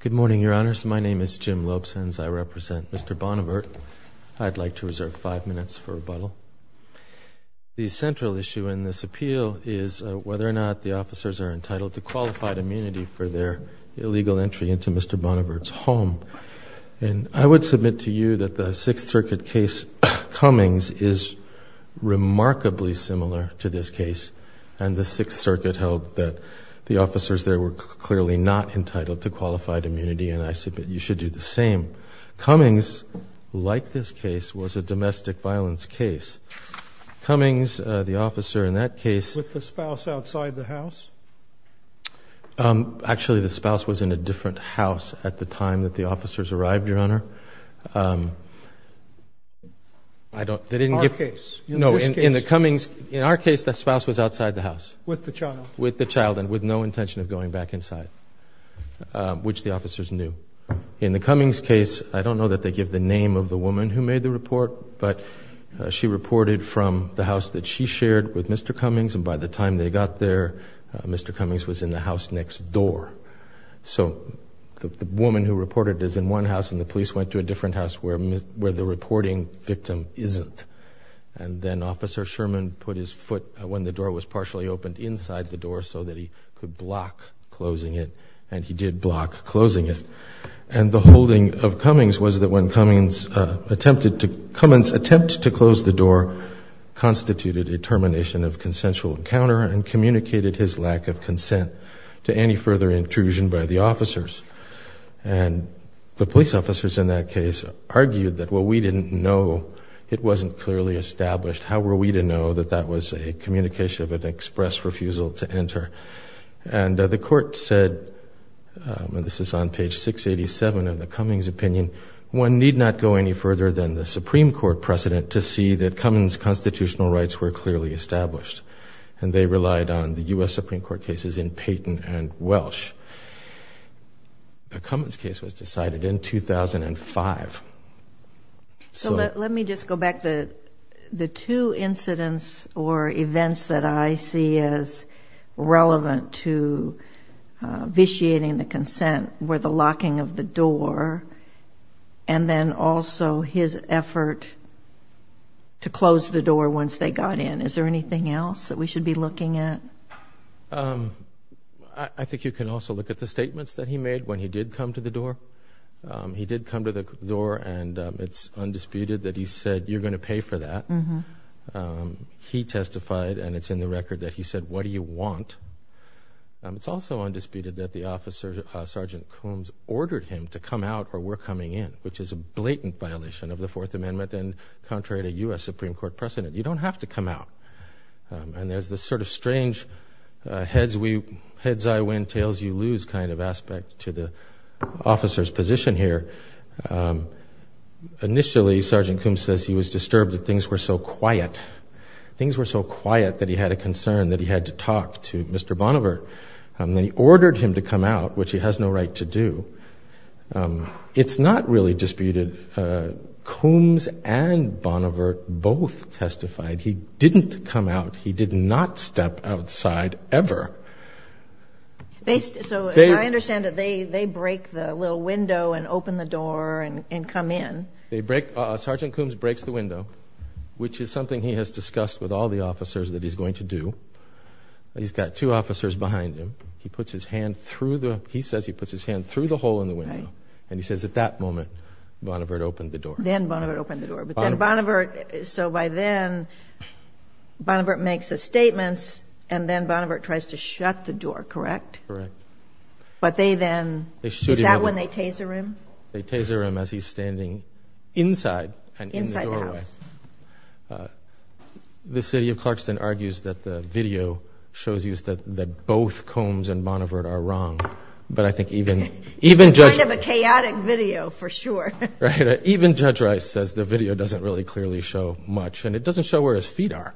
Good morning, your honors. My name is Jim Lopes, and I represent Mr. Bonivert. I'd like to reserve five minutes for rebuttal. The central issue in this appeal is whether or not the officers are entitled to qualified immunity for their illegal entry into Mr. Bonivert's home. And I would submit to you that the Sixth Circuit case Cummings is remarkably similar to this case. And the Sixth Circuit held that the officers there were clearly not entitled to qualified immunity. And I said, but you should do the same. Cummings, like this case, was a domestic violence case. Cummings, the officer in that case with the spouse outside the house. Actually, the spouse was in a different house at the time that the officers arrived, your honor. Our case. No, in the Cummings, in our case, the spouse was outside the house. With the child. With the child and with no intention of going back inside, which the officers knew. In the Cummings case, I don't know that they give the name of the woman who made the report, but she reported from the house that she shared with Mr. Cummings and by the time they got there, Mr. Cummings was in the house next door. So the woman who reported is in one house and the police went to a different house where the reporting victim isn't. And then Officer Sherman put his foot, when the door was partially opened, inside the door so that he could block closing it. And he did block closing it. And the holding of Cummings was that when Cummings attempted to, Cummings' attempt to close the door constituted a termination of consensual encounter and communicated his lack of consent to any further intrusion by the officers. And the police officers in that case argued that, well, we didn't know it wasn't clearly established. How were we to know that that was a communication of an express refusal to enter? And the court said, and this is on page 687 of the Cummings opinion, one need not go any further than the Supreme Court precedent to see that Cummings' constitutional rights were clearly established. And they did that in Dayton and Welsh. The Cummings case was decided in 2005. So let me just go back to the two incidents or events that I see as relevant to vitiating the consent were the locking of the door and then also his effort to close the door once they got in. Is there anything else that we should be looking at? I think you can also look at the statements that he made when he did come to the door. He did come to the door and it's undisputed that he said, you're going to pay for that. He testified and it's in the record that he said, what do you want? It's also undisputed that the officer, Sergeant Cummings, ordered him to come out or we're coming in, which is a blatant violation of the Fourth Amendment and contrary to U.S. Supreme Court precedent. You don't have to come out. And there's this sort of strange heads I win, tails you lose kind of aspect to the officer's position here. Initially, Sergeant Cummings says he was disturbed that things were so quiet. Things were so quiet that he had a concern that he had to talk to Mr. Bonnevere. And they ordered him to come out, which he has no right to do. It's not really disputed. Cummings and Bonnevere both testified. He didn't come out. He did not step outside ever. So I understand that they break the little window and open the door and come in. Sergeant Cummings breaks the window, which is something he has discussed with all the officers that he's going to do. He's got two officers behind him. He says he puts his hand through the hole in the window. And he says at that moment, Bonnevere opened the door. Then Bonnevere opened the door. So by then, Bonnevere makes the statements and then Bonnevere tries to shut the door, correct? Correct. But they then, is that when they taser him? They taser him as he's standing inside the doorway. The city of Clarkston argues that the video shows you that both Cummings and Bonnevere are wrong. But I think even Judge Rice says the video doesn't really clearly show much. And it doesn't show where his feet are.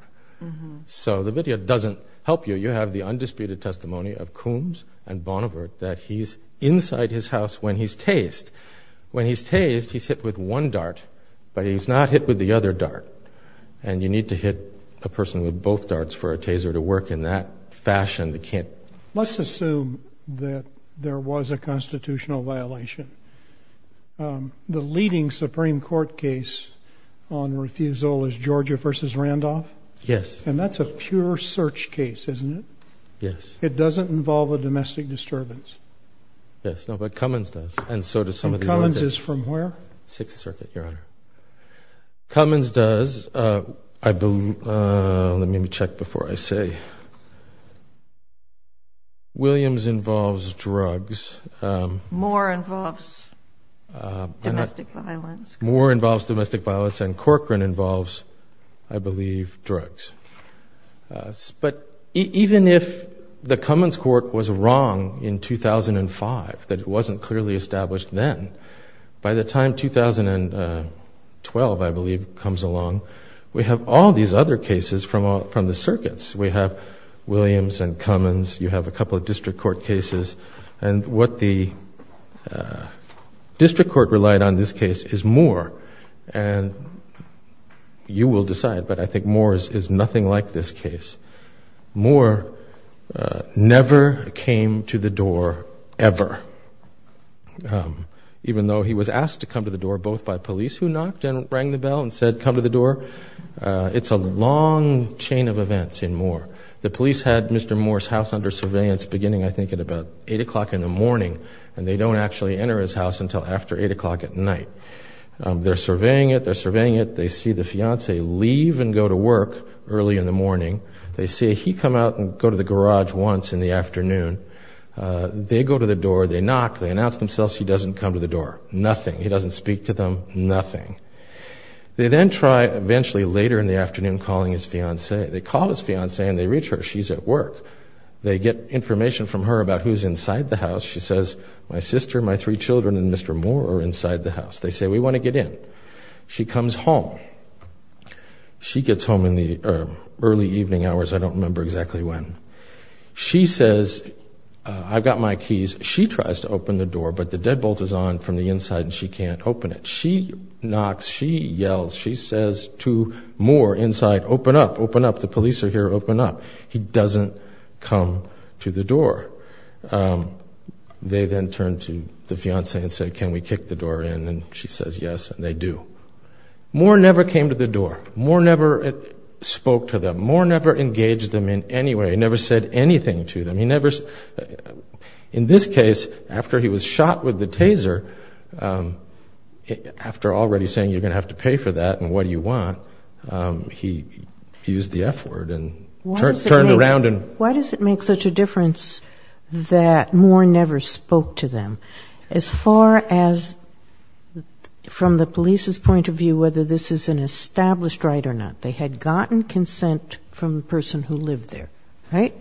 So the video doesn't help you. You have the undisputed testimony of Cummings and Bonnevere that he's inside his house when he's tased. When he's tased, he's hit with one dart, but he's not hit with the other dart. And you need to hit a person with both darts for a taser to work in that fashion. Let's assume that there was a constitutional violation. The leading Supreme Court case on refusal is Georgia v. Randolph. Yes. And that's a pure search case, isn't it? Yes. It doesn't involve a domestic disturbance. Yes, but Cummings does. And Cummings is from where? Sixth Circuit, Your Honor. Cummings does. Let me check before I say. Williams involves drugs. Moore involves domestic violence. Moore involves domestic violence and Corcoran involves, I believe, drugs. But even if the Cummings court was wrong in 2005, that it wasn't clearly established then, by the time 2012, I believe, comes along, we have all these other cases from the circuits. We have Williams and Cummings. You have a couple of district court cases. And what the district court relied on in this case is Moore. And you will decide, but I think Moore is nothing like this case. Moore never came to the door, ever, even though he was asked to come to the door, both by police who knocked and rang the bell and said, come to the door. It's a long chain of events in Moore. The police had Mr. Moore's house under surveillance beginning, I think, at about 8 o'clock in the morning, and they don't actually enter his house until after 8 o'clock at night. They're surveying it. They're surveying it. They see the fiancé leave and go to work early in the morning. They see he come out and go to the garage once in the afternoon. They go to the door. They knock. They announce themselves. He doesn't come to the door. Nothing. He doesn't speak to them. Nothing. They then try eventually later in the afternoon calling his fiancé. They call his fiancé and they reach her. She's at work. They get information from her about who's inside the house. She says, my sister, my three children, and Mr. Moore are inside the house. They say, we want to get in. She comes home. She gets home in the early evening hours. I don't remember exactly when. She says, I've got my keys. She tries to open the door, but the deadbolt is on from the inside and she can't open it. She knocks. She yells. She says to Moore inside, open up, open up. The police are here. Open up. He doesn't come to the door. They then turn to the fiancé and say, can we kick the door in? And she says yes, and they do. Moore never came to the door. Moore never spoke to them. Moore never engaged them in any way. He never said anything to them. In this case, after he was shot with the taser, after already saying you're going to have to pay for that and what do you want, he used the F word and turned around. Why does it make such a difference that Moore never spoke to them? As far as from the police's point of view, whether this is an established right or not, they had gotten consent from the person who lived there, right?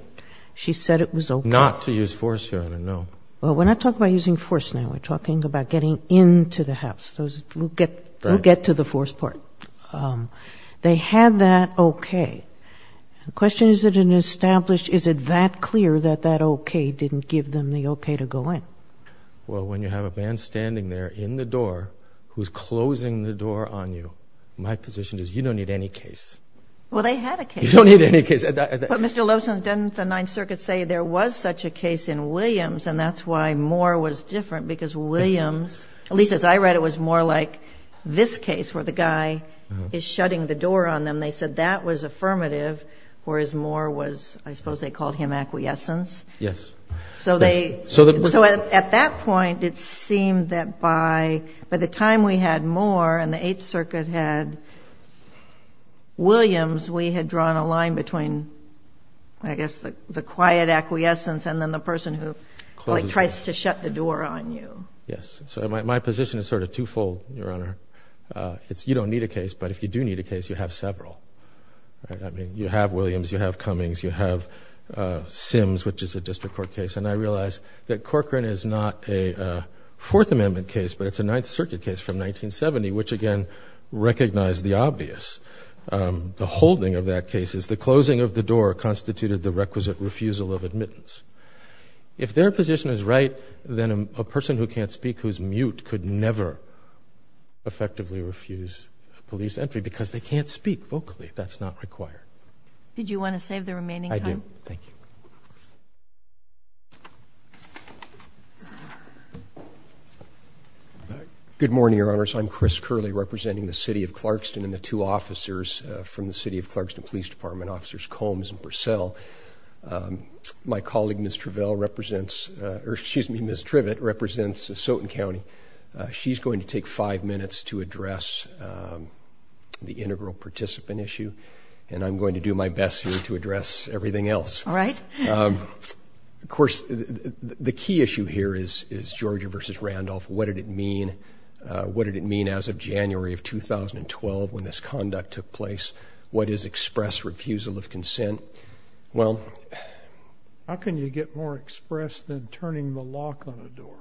She said it was okay. Not to use force, Your Honor, no. Well, we're not talking about using force now. We're talking about getting into the house. We'll get to the force part. They had that okay. The question is, is it that clear that that okay didn't give them the okay to go in? Well, when you have a man standing there in the door who's closing the door on you, my position is you don't need any case. Well, they had a case. You don't need any case. But, Mr. Loebson, didn't the Ninth Circuit say there was such a case in Williams, and that's why Moore was different because Williams, at least as I read it, was more like this case where the guy is shutting the door on them. They said that was affirmative, whereas Moore was, I suppose they called him acquiescence. Yes. So at that point, it seemed that by the time we had Moore and the Eighth Circuit had Williams, we had drawn a line between, I guess, the quiet acquiescence and then the person who tries to shut the door on you. Yes. So my position is sort of twofold, Your Honor. You don't need a case, but if you do need a case, you have several. You have Williams. You have Cummings. You have Sims, which is a district court case. And I realize that Corcoran is not a Fourth Amendment case, but it's a Ninth Circuit case from 1970, which, again, recognized the obvious. The holding of that case is the closing of the door constituted the requisite refusal of admittance. If their position is right, then a person who can't speak, who's mute, could never effectively refuse police entry because they can't speak vocally. That's not required. Did you want to save the remaining time? Thank you. Good morning, Your Honors. I'm Chris Curley, representing the City of Clarkston and the two officers from the City of Clarkston Police Department, Officers Combs and Purcell. My colleague, Ms. Trivett, represents Soton County. She's going to take five minutes to address the integral participant issue, and I'm going to do my best here to address everything else. All right. Of course, the key issue here is Georgia v. Randolph. What did it mean? What did it mean as of January of 2012 when this conduct took place? What is express refusal of consent? Well, how can you get more express than turning the lock on a door?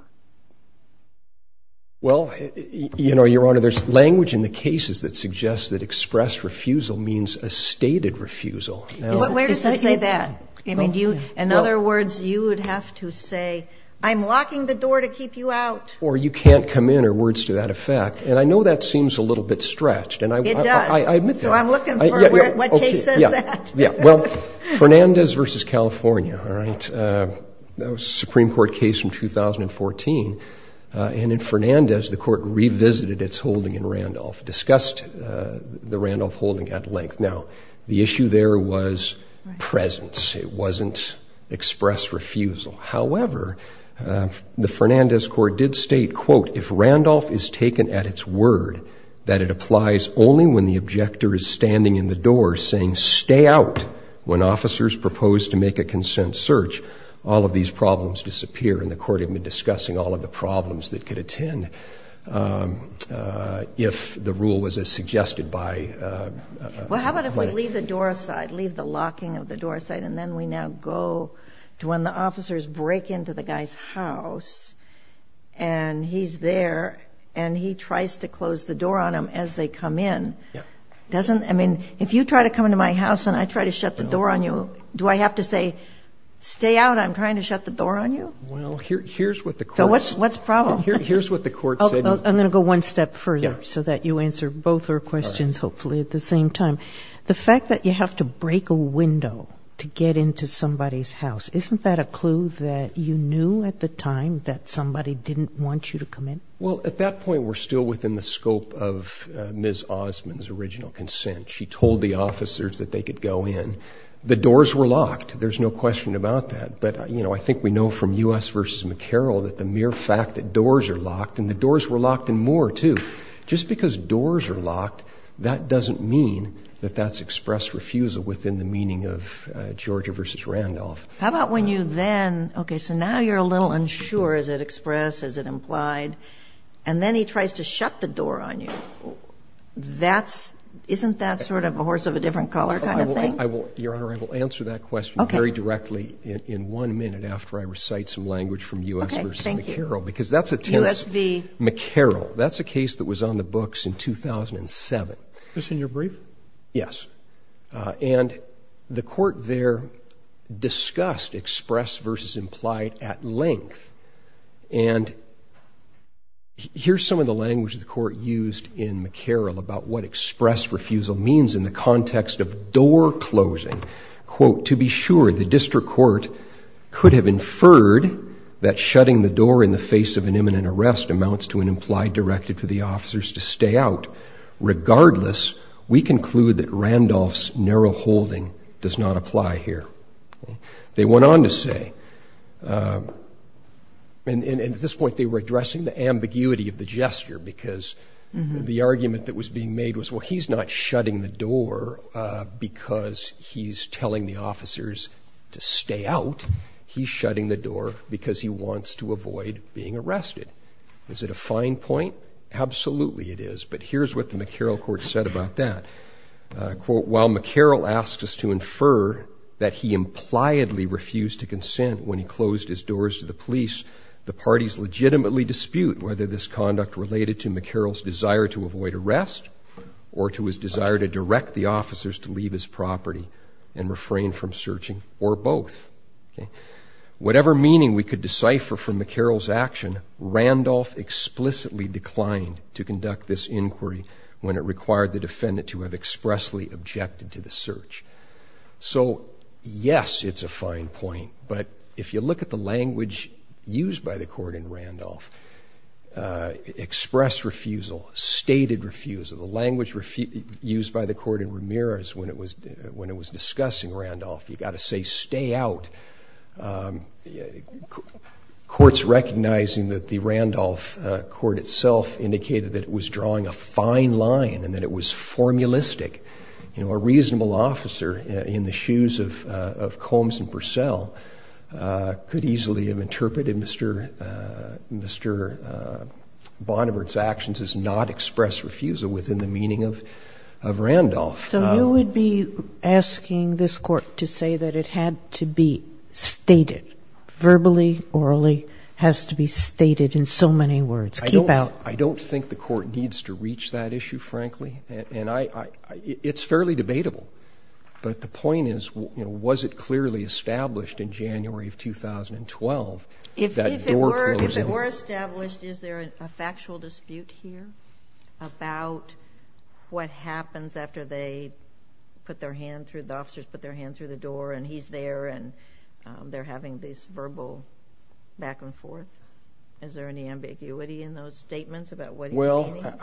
Well, you know, Your Honor, there's language in the cases that suggests that express refusal means a stated refusal. Where does that say that? In other words, you would have to say, I'm locking the door to keep you out. Or you can't come in, or words to that effect. And I know that seems a little bit stretched. It does. I admit that. So I'm looking for what case says that. Well, Fernandez v. California, all right? That was a Supreme Court case from 2014. And in Fernandez, the Court revisited its holding in Randolph, discussed the Randolph holding at length. Now, the issue there was presence. It wasn't express refusal. However, the Fernandez Court did state, quote, if Randolph is taken at its word, that it applies only when the objector is standing in the door saying, stay out, when officers propose to make a consent search, all of these problems disappear. And the Court had been discussing all of the problems that could attend if the rule was as suggested by the plaintiff. Well, how about if we leave the door aside, leave the locking of the door aside, and then we now go to when the officers break into the guy's house, and he's there, and he tries to close the door on him as they come in? Yeah. Doesn't the ---- I mean, if you try to come into my house and I try to shut the door on you, do I have to say, stay out, I'm trying to shut the door on you? Well, here's what the Court ---- So what's the problem? Here's what the Court said. I'm going to go one step further so that you answer both our questions, hopefully, at the same time. The fact that you have to break a window to get into somebody's house, isn't that a clue that you knew at the time that somebody didn't want you to come in? Well, at that point, we're still within the scope of Ms. Osmond's original consent. She told the officers that they could go in. The doors were locked. There's no question about that. But, you know, I think we know from U.S. v. McCarroll that the mere fact that doors are locked, and the doors were locked in Moore too, just because doors are locked, that doesn't mean that that's express refusal within the meaning of Georgia v. Randolph. How about when you then ---- Okay, so now you're a little unsure. Is it express? Is it implied? And then he tries to shut the door on you. Isn't that sort of a horse of a different color kind of thing? Your Honor, I will answer that question very directly in one minute after I recite some language from U.S. v. McCarroll. Okay, thank you. U.S. v. McCarroll. That's a case that was on the books in 2007. Just in your brief? Yes. And the court there discussed express v. implied at length. And here's some of the language the court used in McCarroll about what express refusal means in the context of door closing. Quote, To be sure, the district court could have inferred that shutting the door in the face of an imminent arrest amounts to an implied directive for the officers to stay out. Regardless, we conclude that Randolph's narrow holding does not apply here. They went on to say, and at this point they were addressing the ambiguity of the gesture because the argument that was being made was, well, he's not shutting the door because he's telling the officers to stay out. He's shutting the door because he wants to avoid being arrested. Is it a fine point? Absolutely it is. But here's what the McCarroll court said about that. Quote, While McCarroll asked us to infer that he impliedly refused to consent when he closed his doors to the police, the parties legitimately dispute whether this conduct related to McCarroll's desire to avoid arrest or to his desire to direct the officers to leave his Whatever meaning we could decipher from McCarroll's action, Randolph explicitly declined to conduct this inquiry when it required the defendant to have expressly objected to the search. So, yes, it's a fine point. But if you look at the language used by the court in Randolph, express refusal, stated refusal, the language used by the court in Ramirez when it was discussing Randolph, you've got to say stay out. Courts recognizing that the Randolph court itself indicated that it was drawing a fine line and that it was formulistic. You know, a reasonable officer in the shoes of Combs and Purcell could easily have interpreted Mr. Bonner's actions as not express refusal within the meaning of Randolph. So you would be asking this court to say that it had to be stated verbally, orally has to be stated in so many words. Keep out. I don't think the court needs to reach that issue, frankly, and I, it's fairly debatable, but the point is, you know, was it clearly established in January of 2012 that your If it were, if it were established, is there a factual dispute here about what happens after they put their hand through the officers, put their hand through the door and he's there and they're having these verbal back and forth. Is there any ambiguity in those statements about what, well,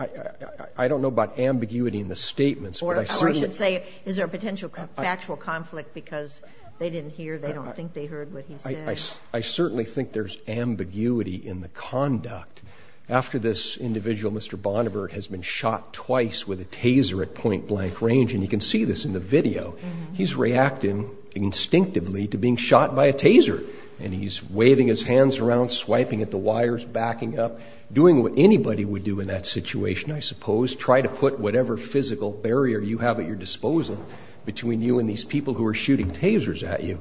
I don't know about ambiguity in the statements, or I should say is there a potential factual conflict because they didn't hear, they don't think they heard what he said. I certainly think there's ambiguity in the conduct after this individual, Mr. Bonner has been shot twice with a taser at point blank range. And you can see this in the video. He's reacting instinctively to being shot by a taser and he's waving his hands around, swiping at the wires, backing up, doing what anybody would do in that situation. I suppose, try to put whatever physical barrier you have at your disposal between you and these people who are shooting tasers at you.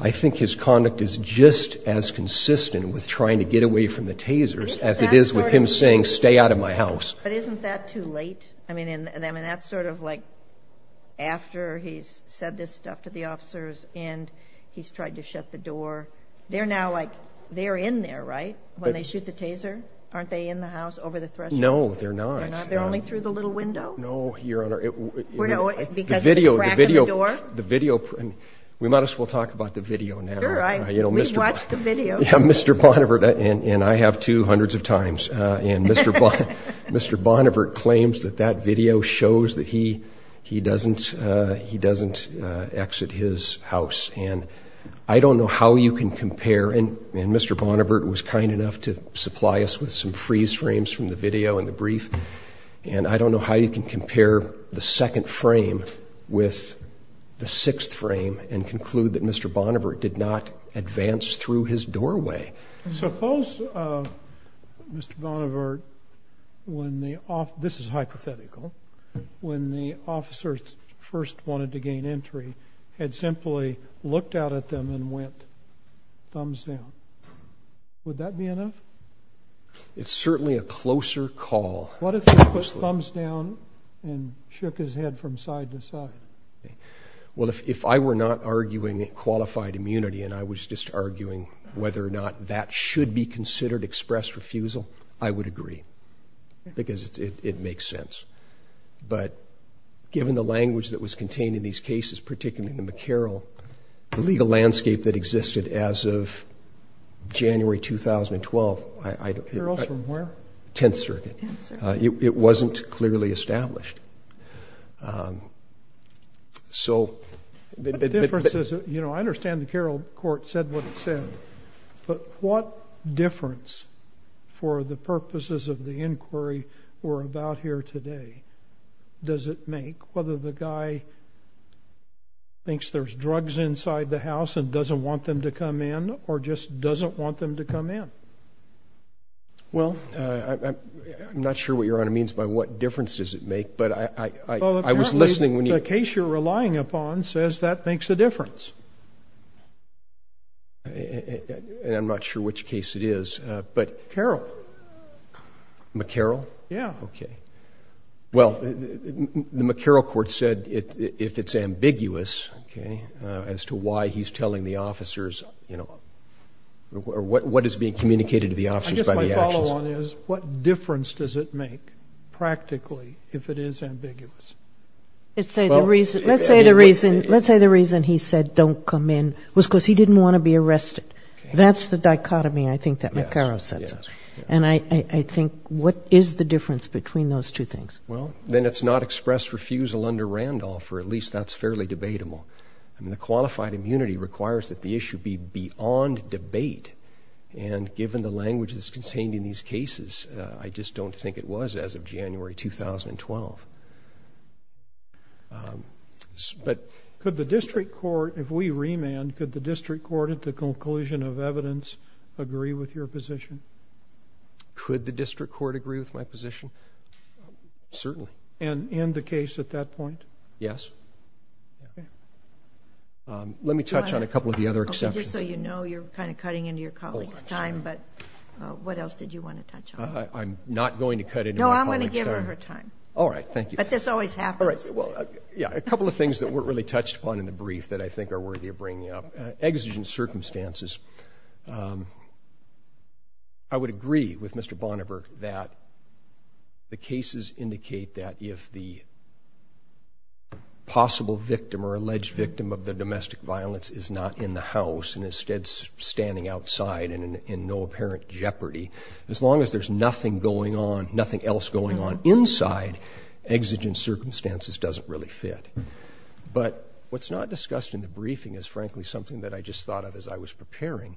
I think his conduct is just as consistent with trying to get away from the tasers as it is with him saying, stay out of my house. But isn't that too late? I mean, and I mean, that's sort of like after he's said this stuff to the officers and he's tried to shut the door. They're now like they're in there, right? When they shoot the taser, aren't they in the house over the threshold? No, they're not. They're only through the little window? No, Your Honor. Because of the crack in the door? We might as well talk about the video now. Sure. We watched the video. Yeah, Mr. Bonnevert, and I have too, hundreds of times. And Mr. Bonnevert claims that that video shows that he doesn't exit his house. And I don't know how you can compare. And Mr. Bonnevert was kind enough to supply us with some freeze frames from the video and the brief. And I don't know how you can compare the second frame with the sixth frame and conclude that Mr. Bonnevert did not advance through his doorway. Suppose Mr. Bonnevert, when the officer, this is hypothetical, when the officers first wanted to gain entry, had simply looked out at them and went thumbs down. Would that be enough? It's certainly a closer call. What if he put thumbs down and shook his head from side to side? Well, if I were not arguing qualified immunity and I was just arguing whether or not that should be considered express refusal, I would agree because it makes sense. But given the language that was contained in these cases, particularly in the McCarroll, the legal landscape that existed as of January 2012. McCarroll's from where? Tenth Circuit. It wasn't clearly established. So the difference is, you know, I understand the Carroll court said what it said, but what difference for the purposes of the inquiry we're about here today does it make whether the guy thinks there's drugs inside the house and doesn't want them to come in or just doesn't want them to come in? Well, I'm not sure what Your Honor means by what difference does it make, but I was listening when you. The case you're relying upon says that makes a difference. And I'm not sure which case it is, but. Carroll. McCarroll? Yeah. Okay. Well, the McCarroll court said if it's ambiguous, okay, as to why he's telling the officers, you know, or what is being communicated to the officers by the actions. I guess my follow-on is what difference does it make practically if it is ambiguous? Let's say the reason he said don't come in was because he didn't want to be arrested. That's the dichotomy I think that McCarroll said. And I think what is the difference between those two things? Well, then it's not express refusal under Randolph, or at least that's fairly debatable. The qualified immunity requires that the issue be beyond debate, and given the language that's contained in these cases, I just don't think it was as of January 2012. Could the district court, if we remand, could the district court at the conclusion of evidence agree with your position? Could the district court agree with my position? Certainly. And end the case at that point? Yes. Okay. Let me touch on a couple of the other exceptions. Okay, just so you know, you're kind of cutting into your colleague's time, but what else did you want to touch on? I'm not going to cut into my colleague's time. No, I'm going to give her her time. All right, thank you. But this always happens. All right, well, yeah, a couple of things that weren't really touched upon in the brief that I think are worthy of bringing up. Exigent circumstances. I would agree with Mr. Bonneberg that the cases indicate that if the possible victim or alleged victim of the domestic violence is not in the house and instead is standing outside in no apparent jeopardy, as long as there's nothing going on, nothing else going on inside, exigent circumstances doesn't really fit. But what's not discussed in the briefing is, frankly, something that I just thought of as I was preparing.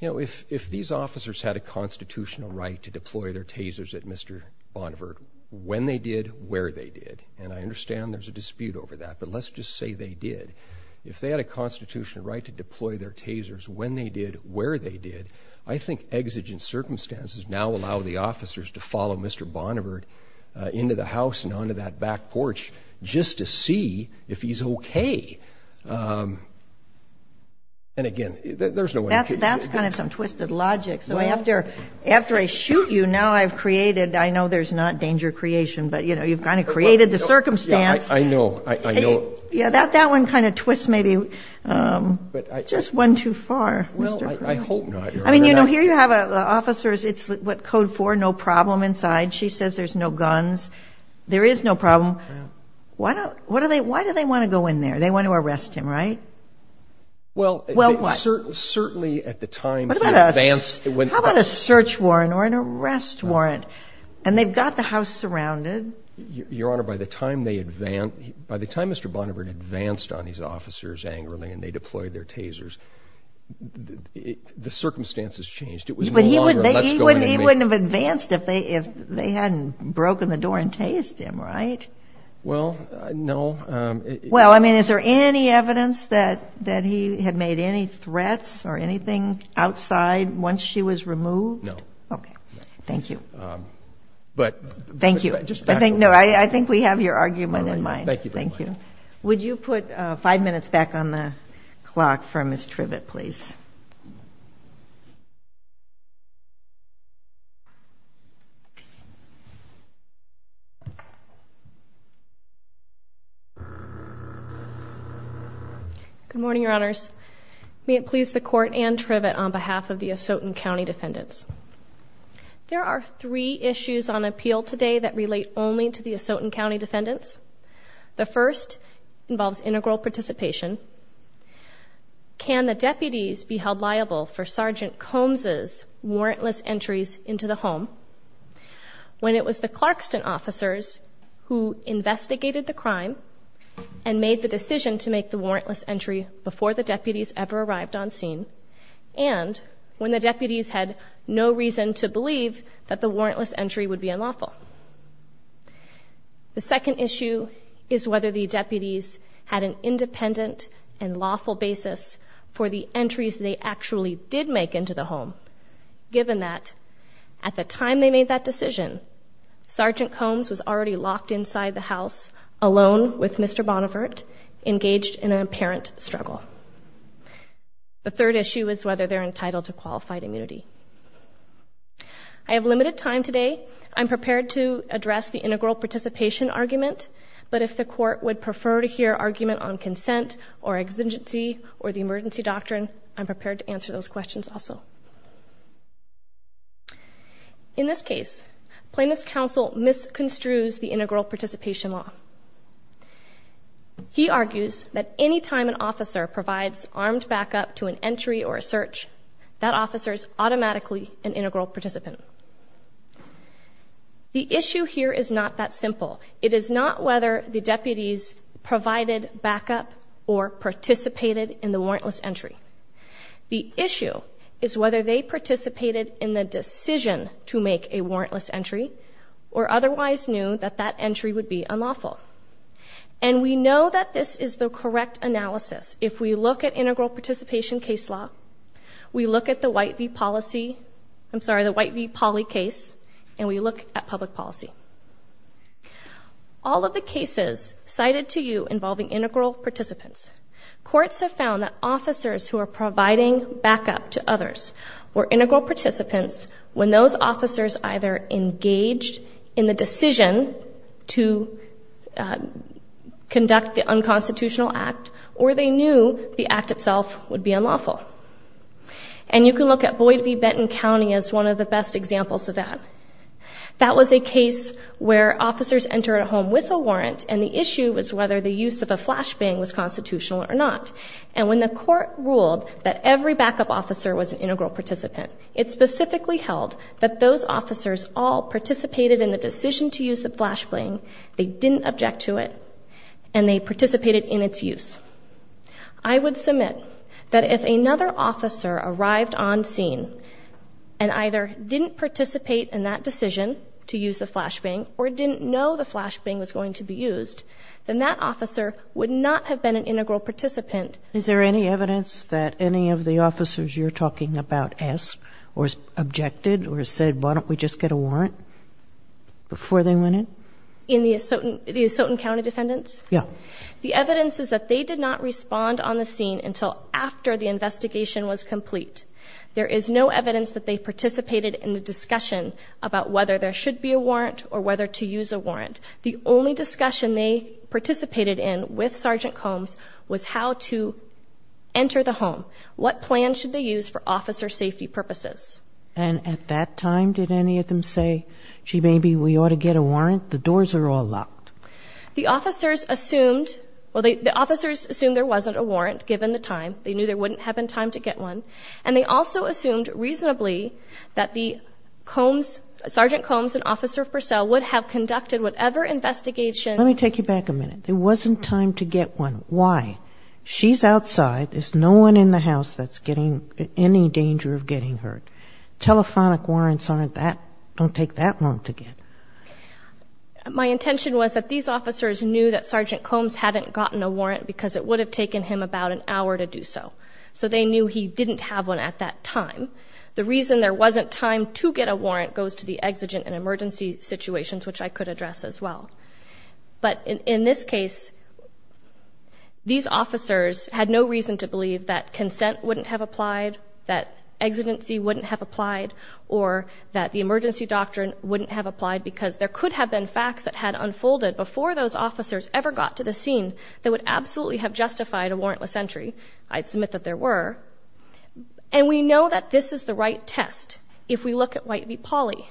If these officers had a constitutional right to deploy their tasers at Mr. Bonneberg when they did, where they did, and I understand there's a dispute over that, but let's just say they did. If they had a constitutional right to deploy their tasers when they did, where they did, I think exigent circumstances now allow the officers to follow Mr. Bonneberg into the house and onto that back porch just to see if he's okay. And, again, there's no way. That's kind of some twisted logic. So after I shoot you, now I've created, I know there's not danger creation, but, you know, you've kind of created the circumstance. I know. Yeah, that one kind of twists maybe just one too far. Well, I hope not. I mean, you know, here you have officers. It's what, Code 4, no problem inside. She says there's no guns. There is no problem. Why do they want to go in there? They want to arrest him, right? Well, certainly at the time he advanced. How about a search warrant or an arrest warrant? And they've got the house surrounded. Your Honor, by the time Mr. Bonneberg advanced on these officers angrily and they deployed their tasers, the circumstances changed. He wouldn't have advanced if they hadn't broken the door and tased him, right? Well, no. Well, I mean, is there any evidence that he had made any threats or anything outside once she was removed? No. Okay. Thank you. Thank you. No, I think we have your argument in mind. Thank you very much. Would you put five minutes back on the clock for Ms. Trivett, please? Good morning, Your Honors. May it please the Court and Trivett, on behalf of the Asotan County defendants, there are three issues on appeal today that relate only to the Asotan County defendants. The first involves integral participation. Can the deputies be held liable for Sergeant Combs' warrantless entries into the home when it was the Clarkston officers who investigated the crime and made the decision to make the warrantless entry before the deputies ever arrived on scene and when the deputies had no reason to believe that the warrantless entry would be unlawful? The second issue is whether the deputies had an independent and lawful basis for the entries they actually did make into the home, given that at the time they made that decision, Sergeant Combs was already locked inside the house alone with Mr. Bonnevert, engaged in an apparent struggle. The third issue is whether they're entitled to qualified immunity. I have limited time today. I'm prepared to address the integral participation argument, but if the Court would prefer to hear argument on consent or exigency or the emergency doctrine, I'm prepared to answer those questions also. In this case, Plaintiff's Counsel misconstrues the integral participation law. He argues that any time an officer provides armed backup to an entry or a search, that officer is automatically an integral participant. The issue here is not that simple. It is not whether the deputies provided backup or participated in the warrantless entry. The issue is whether they participated in the decision to make a warrantless entry or otherwise knew that that entry would be unlawful. And we know that this is the correct analysis. If we look at integral participation case law, we look at the White v. Polly case, and we look at public policy. All of the cases cited to you involving integral participants, courts have found that officers who are providing backup to others were integral participants when those officers either engaged in the decision to conduct the unconstitutional act or they knew the act itself would be unlawful. And you can look at Boyd v. Benton County as one of the best examples of that. That was a case where officers entered a home with a warrant, and the issue was whether the use of a flashbang was constitutional or not. And when the court ruled that every backup officer was an integral participant, it specifically held that those officers all participated in the decision to use the flashbang, they didn't object to it, and they participated in its use. I would submit that if another officer arrived on scene and either didn't participate in that decision to use the flashbang or didn't know the flashbang was going to be used, then that officer would not have been an integral participant. Is there any evidence that any of the officers you're talking about asked or objected or said, why don't we just get a warrant before they went in? In the Asotan County defendants? Yeah. The evidence is that they did not respond on the scene until after the investigation was complete. There is no evidence that they participated in the discussion about whether there should be a warrant or whether to use a warrant. The only discussion they participated in with Sergeant Combs was how to enter the home, what plan should they use for officer safety purposes. And at that time, did any of them say, gee, maybe we ought to get a warrant? The doors are all locked. The officers assumed there wasn't a warrant, given the time. They knew there wouldn't have been time to get one. And they also assumed reasonably that Sergeant Combs and Officer Purcell would have conducted whatever investigation. Let me take you back a minute. There wasn't time to get one. Why? She's outside. There's no one in the house that's in any danger of getting hurt. Telephonic warrants don't take that long to get. My intention was that these officers knew that Sergeant Combs hadn't gotten a warrant because it would have taken him about an hour to do so. So they knew he didn't have one at that time. The reason there wasn't time to get a warrant goes to the exigent and emergency situations, which I could address as well. But in this case, these officers had no reason to believe that consent wouldn't have applied, that exigency wouldn't have applied, or that the emergency doctrine wouldn't have applied because there could have been facts that had unfolded before those officers ever got to the scene that would absolutely have justified a warrantless entry. I'd submit that there were. And we know that this is the right test if we look at White v. Pauley.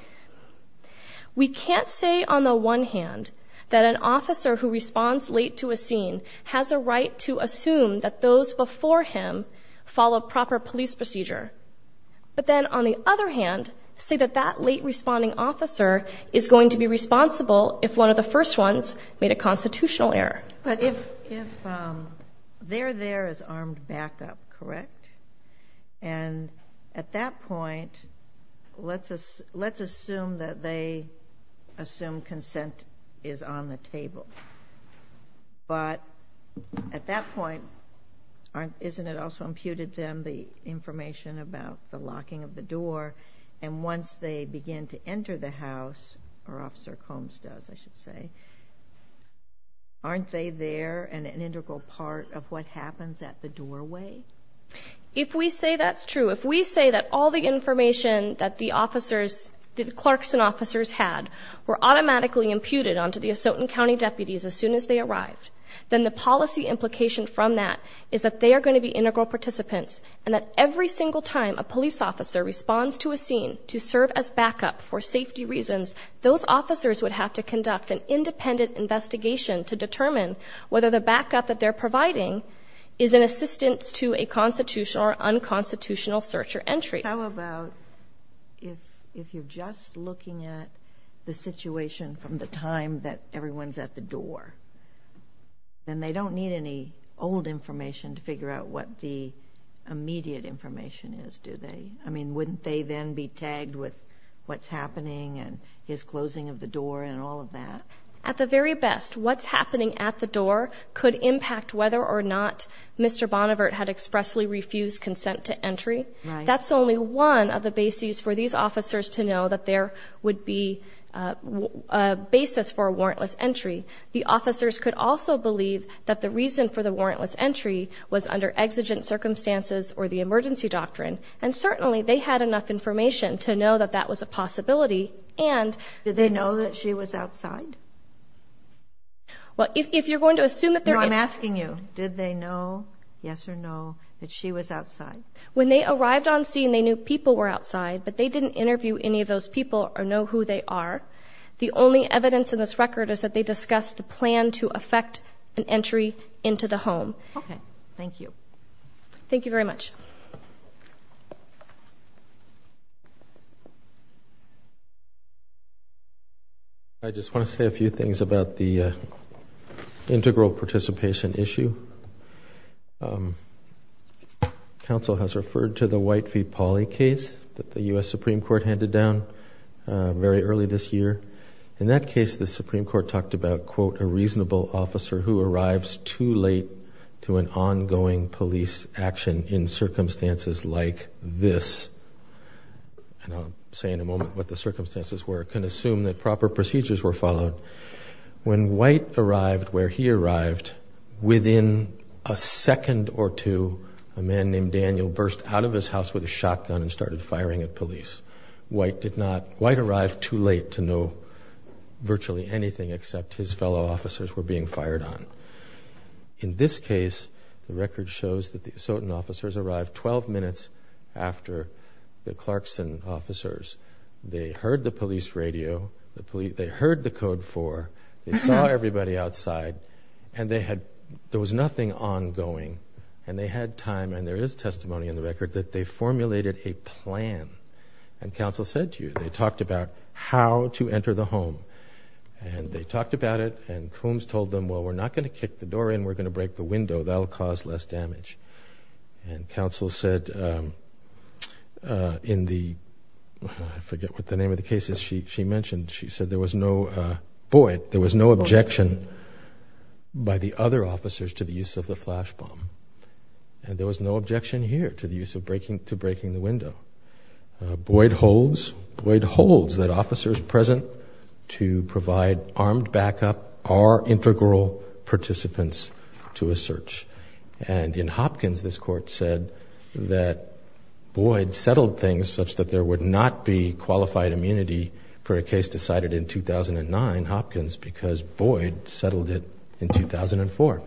We can't say, on the one hand, that an officer who responds late to a scene has a right to assume that those before him follow proper police procedure. But then, on the other hand, say that that late-responding officer is going to be responsible if one of the first ones made a constitutional error. But if they're there as armed backup, correct? And at that point, let's assume that they assume consent is on the table. But at that point, isn't it also imputed to them the information about the locking of the door? And once they begin to enter the house, or Officer Combs does, I should say, aren't they there and an integral part of what happens at the doorway? If we say that's true, if we say that all the information that the officers, the clerks and officers had, were automatically imputed onto the Asotin County deputies as soon as they arrived, then the policy implication from that is that they are going to be integral participants and that every single time a police officer responds to a scene to serve as backup for safety reasons, those officers would have to conduct an independent investigation to determine whether the backup that they're providing is an assistance to a constitutional or unconstitutional search or entry. How about if you're just looking at the situation from the time that everyone's at the door, then they don't need any old information to figure out what the immediate information is, do they? I mean, wouldn't they then be tagged with what's happening and his closing of the door and all of that? At the very best, what's happening at the door could impact whether or not Mr. Bonnevart had expressly refused consent to entry. That's only one of the bases for these officers to know that there would be a basis for a warrantless entry. The officers could also believe that the reason for the warrantless entry was under exigent circumstances or the emergency doctrine, and certainly they had enough information to know that that was a possibility. Did they know that she was outside? Well, if you're going to assume that they're in- No, I'm asking you, did they know, yes or no, that she was outside? When they arrived on scene, they knew people were outside, but they didn't interview any of those people or know who they are. The only evidence in this record is that they discussed the plan to effect an entry into the home. Okay, thank you. Thank you very much. I just want to say a few things about the integral participation issue. Council has referred to the Whitefeet-Pawley case that the U.S. Supreme Court handed down very early this year. In that case, the Supreme Court talked about, quote, a reasonable officer who arrives too late to an ongoing police action in circumstances like this. And I'll say in a moment what the circumstances were. I can assume that proper procedures were followed. When White arrived where he arrived, within a second or two, a man named Daniel burst out of his house with a shotgun and started firing at police. White arrived too late to know virtually anything except his fellow officers were being fired on. In this case, the record shows that the Asotin officers arrived 12 minutes after the Clarkson officers. They heard the police radio. They heard the Code 4. They saw everybody outside. And there was nothing ongoing. And they had time, and there is testimony in the record, that they formulated a plan. And council said to you, they talked about how to enter the home. And they talked about it, and Coombs told them, well, we're not going to kick the door in. We're going to break the window. That will cause less damage. And council said in the, I forget what the name of the case is she mentioned, she said there was no, Boyd, there was no objection by the other officers to the use of the flash bomb. And there was no objection here to the use of breaking, to breaking the window. Boyd holds, Boyd holds that officers present to provide armed backup are integral participants to a search. And in Hopkins, this court said that Boyd settled things such that there would not be qualified immunity for a case decided in 2009 Hopkins because Boyd settled it in 2004.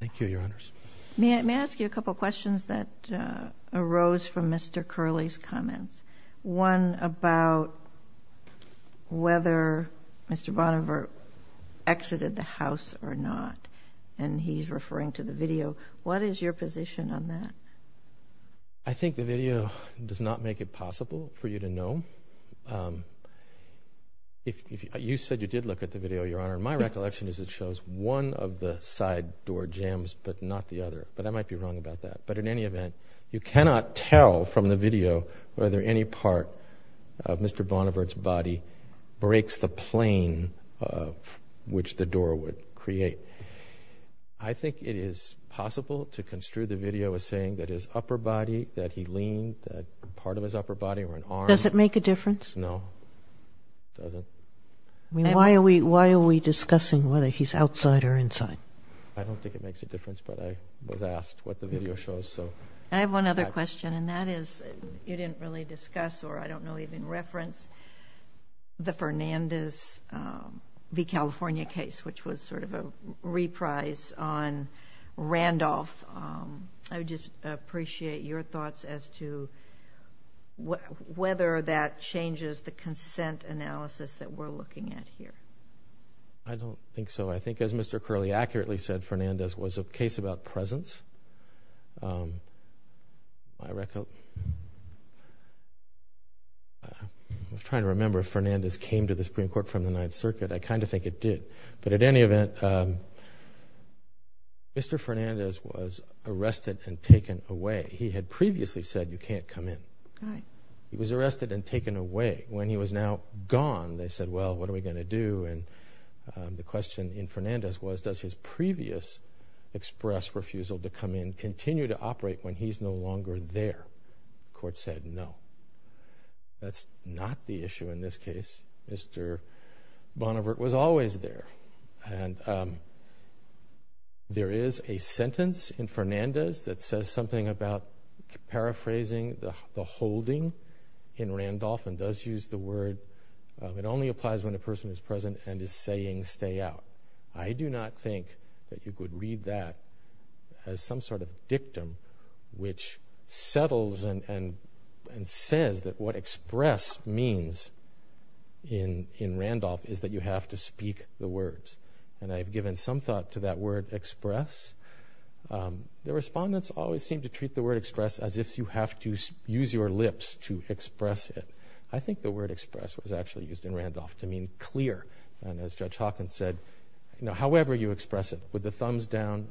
Thank you, Your Honors. May I ask you a couple of questions that arose from Mr. Curley's comments? One about whether Mr. Bonnervert exited the house or not. And he's referring to the video. What is your position on that? I think the video does not make it possible for you to know. My recollection is it shows one of the side door jams but not the other. But I might be wrong about that. But in any event, you cannot tell from the video whether any part of Mr. Bonnervert's body breaks the plane of which the door would create. I think it is possible to construe the video as saying that his upper body, that he leaned, that part of his upper body or an arm. Does it make a difference? No, it doesn't. Why are we discussing whether he's outside or inside? I don't think it makes a difference, but I was asked what the video shows. I have one other question, and that is you didn't really discuss or I don't know even reference the Fernandez v. California case, which was sort of a reprise on Randolph. I would just appreciate your thoughts as to whether that changes the consent analysis that we're looking at here. I don't think so. I think as Mr. Curley accurately said, Fernandez was a case about presence. I was trying to remember if Fernandez came to the Supreme Court from the Ninth Circuit. I kind of think it did. But at any event, Mr. Fernandez was arrested and taken away. He had previously said you can't come in. He was arrested and taken away. When he was now gone, they said, well, what are we going to do? And the question in Fernandez was does his previous express refusal to come in continue to operate when he's no longer there? The court said no. That's not the issue in this case. Mr. Bonnevert was always there. And there is a sentence in Fernandez that says something about paraphrasing the holding in Randolph and does use the word. It only applies when a person is present and is saying stay out. I do not think that you could read that as some sort of dictum which settles and says that what express means in Randolph is that you have to speak the words. And I've given some thought to that word express. The respondents always seem to treat the word express as if you have to use your lips to express it. I think the word express was actually used in Randolph to mean clear. And as Judge Hawkins said, however you express it with the thumbs down,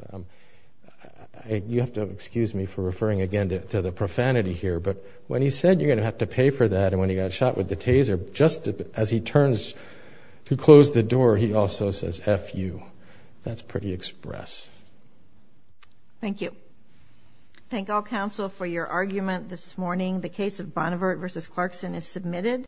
you have to excuse me for referring again to the profanity here, but when he said you're going to have to pay for that and when he got shot with the taser, just as he closed the door, he also says F-U. That's pretty express. Thank you. Thank all counsel for your argument this morning. The case of Bonnevert v. Clarkson is submitted.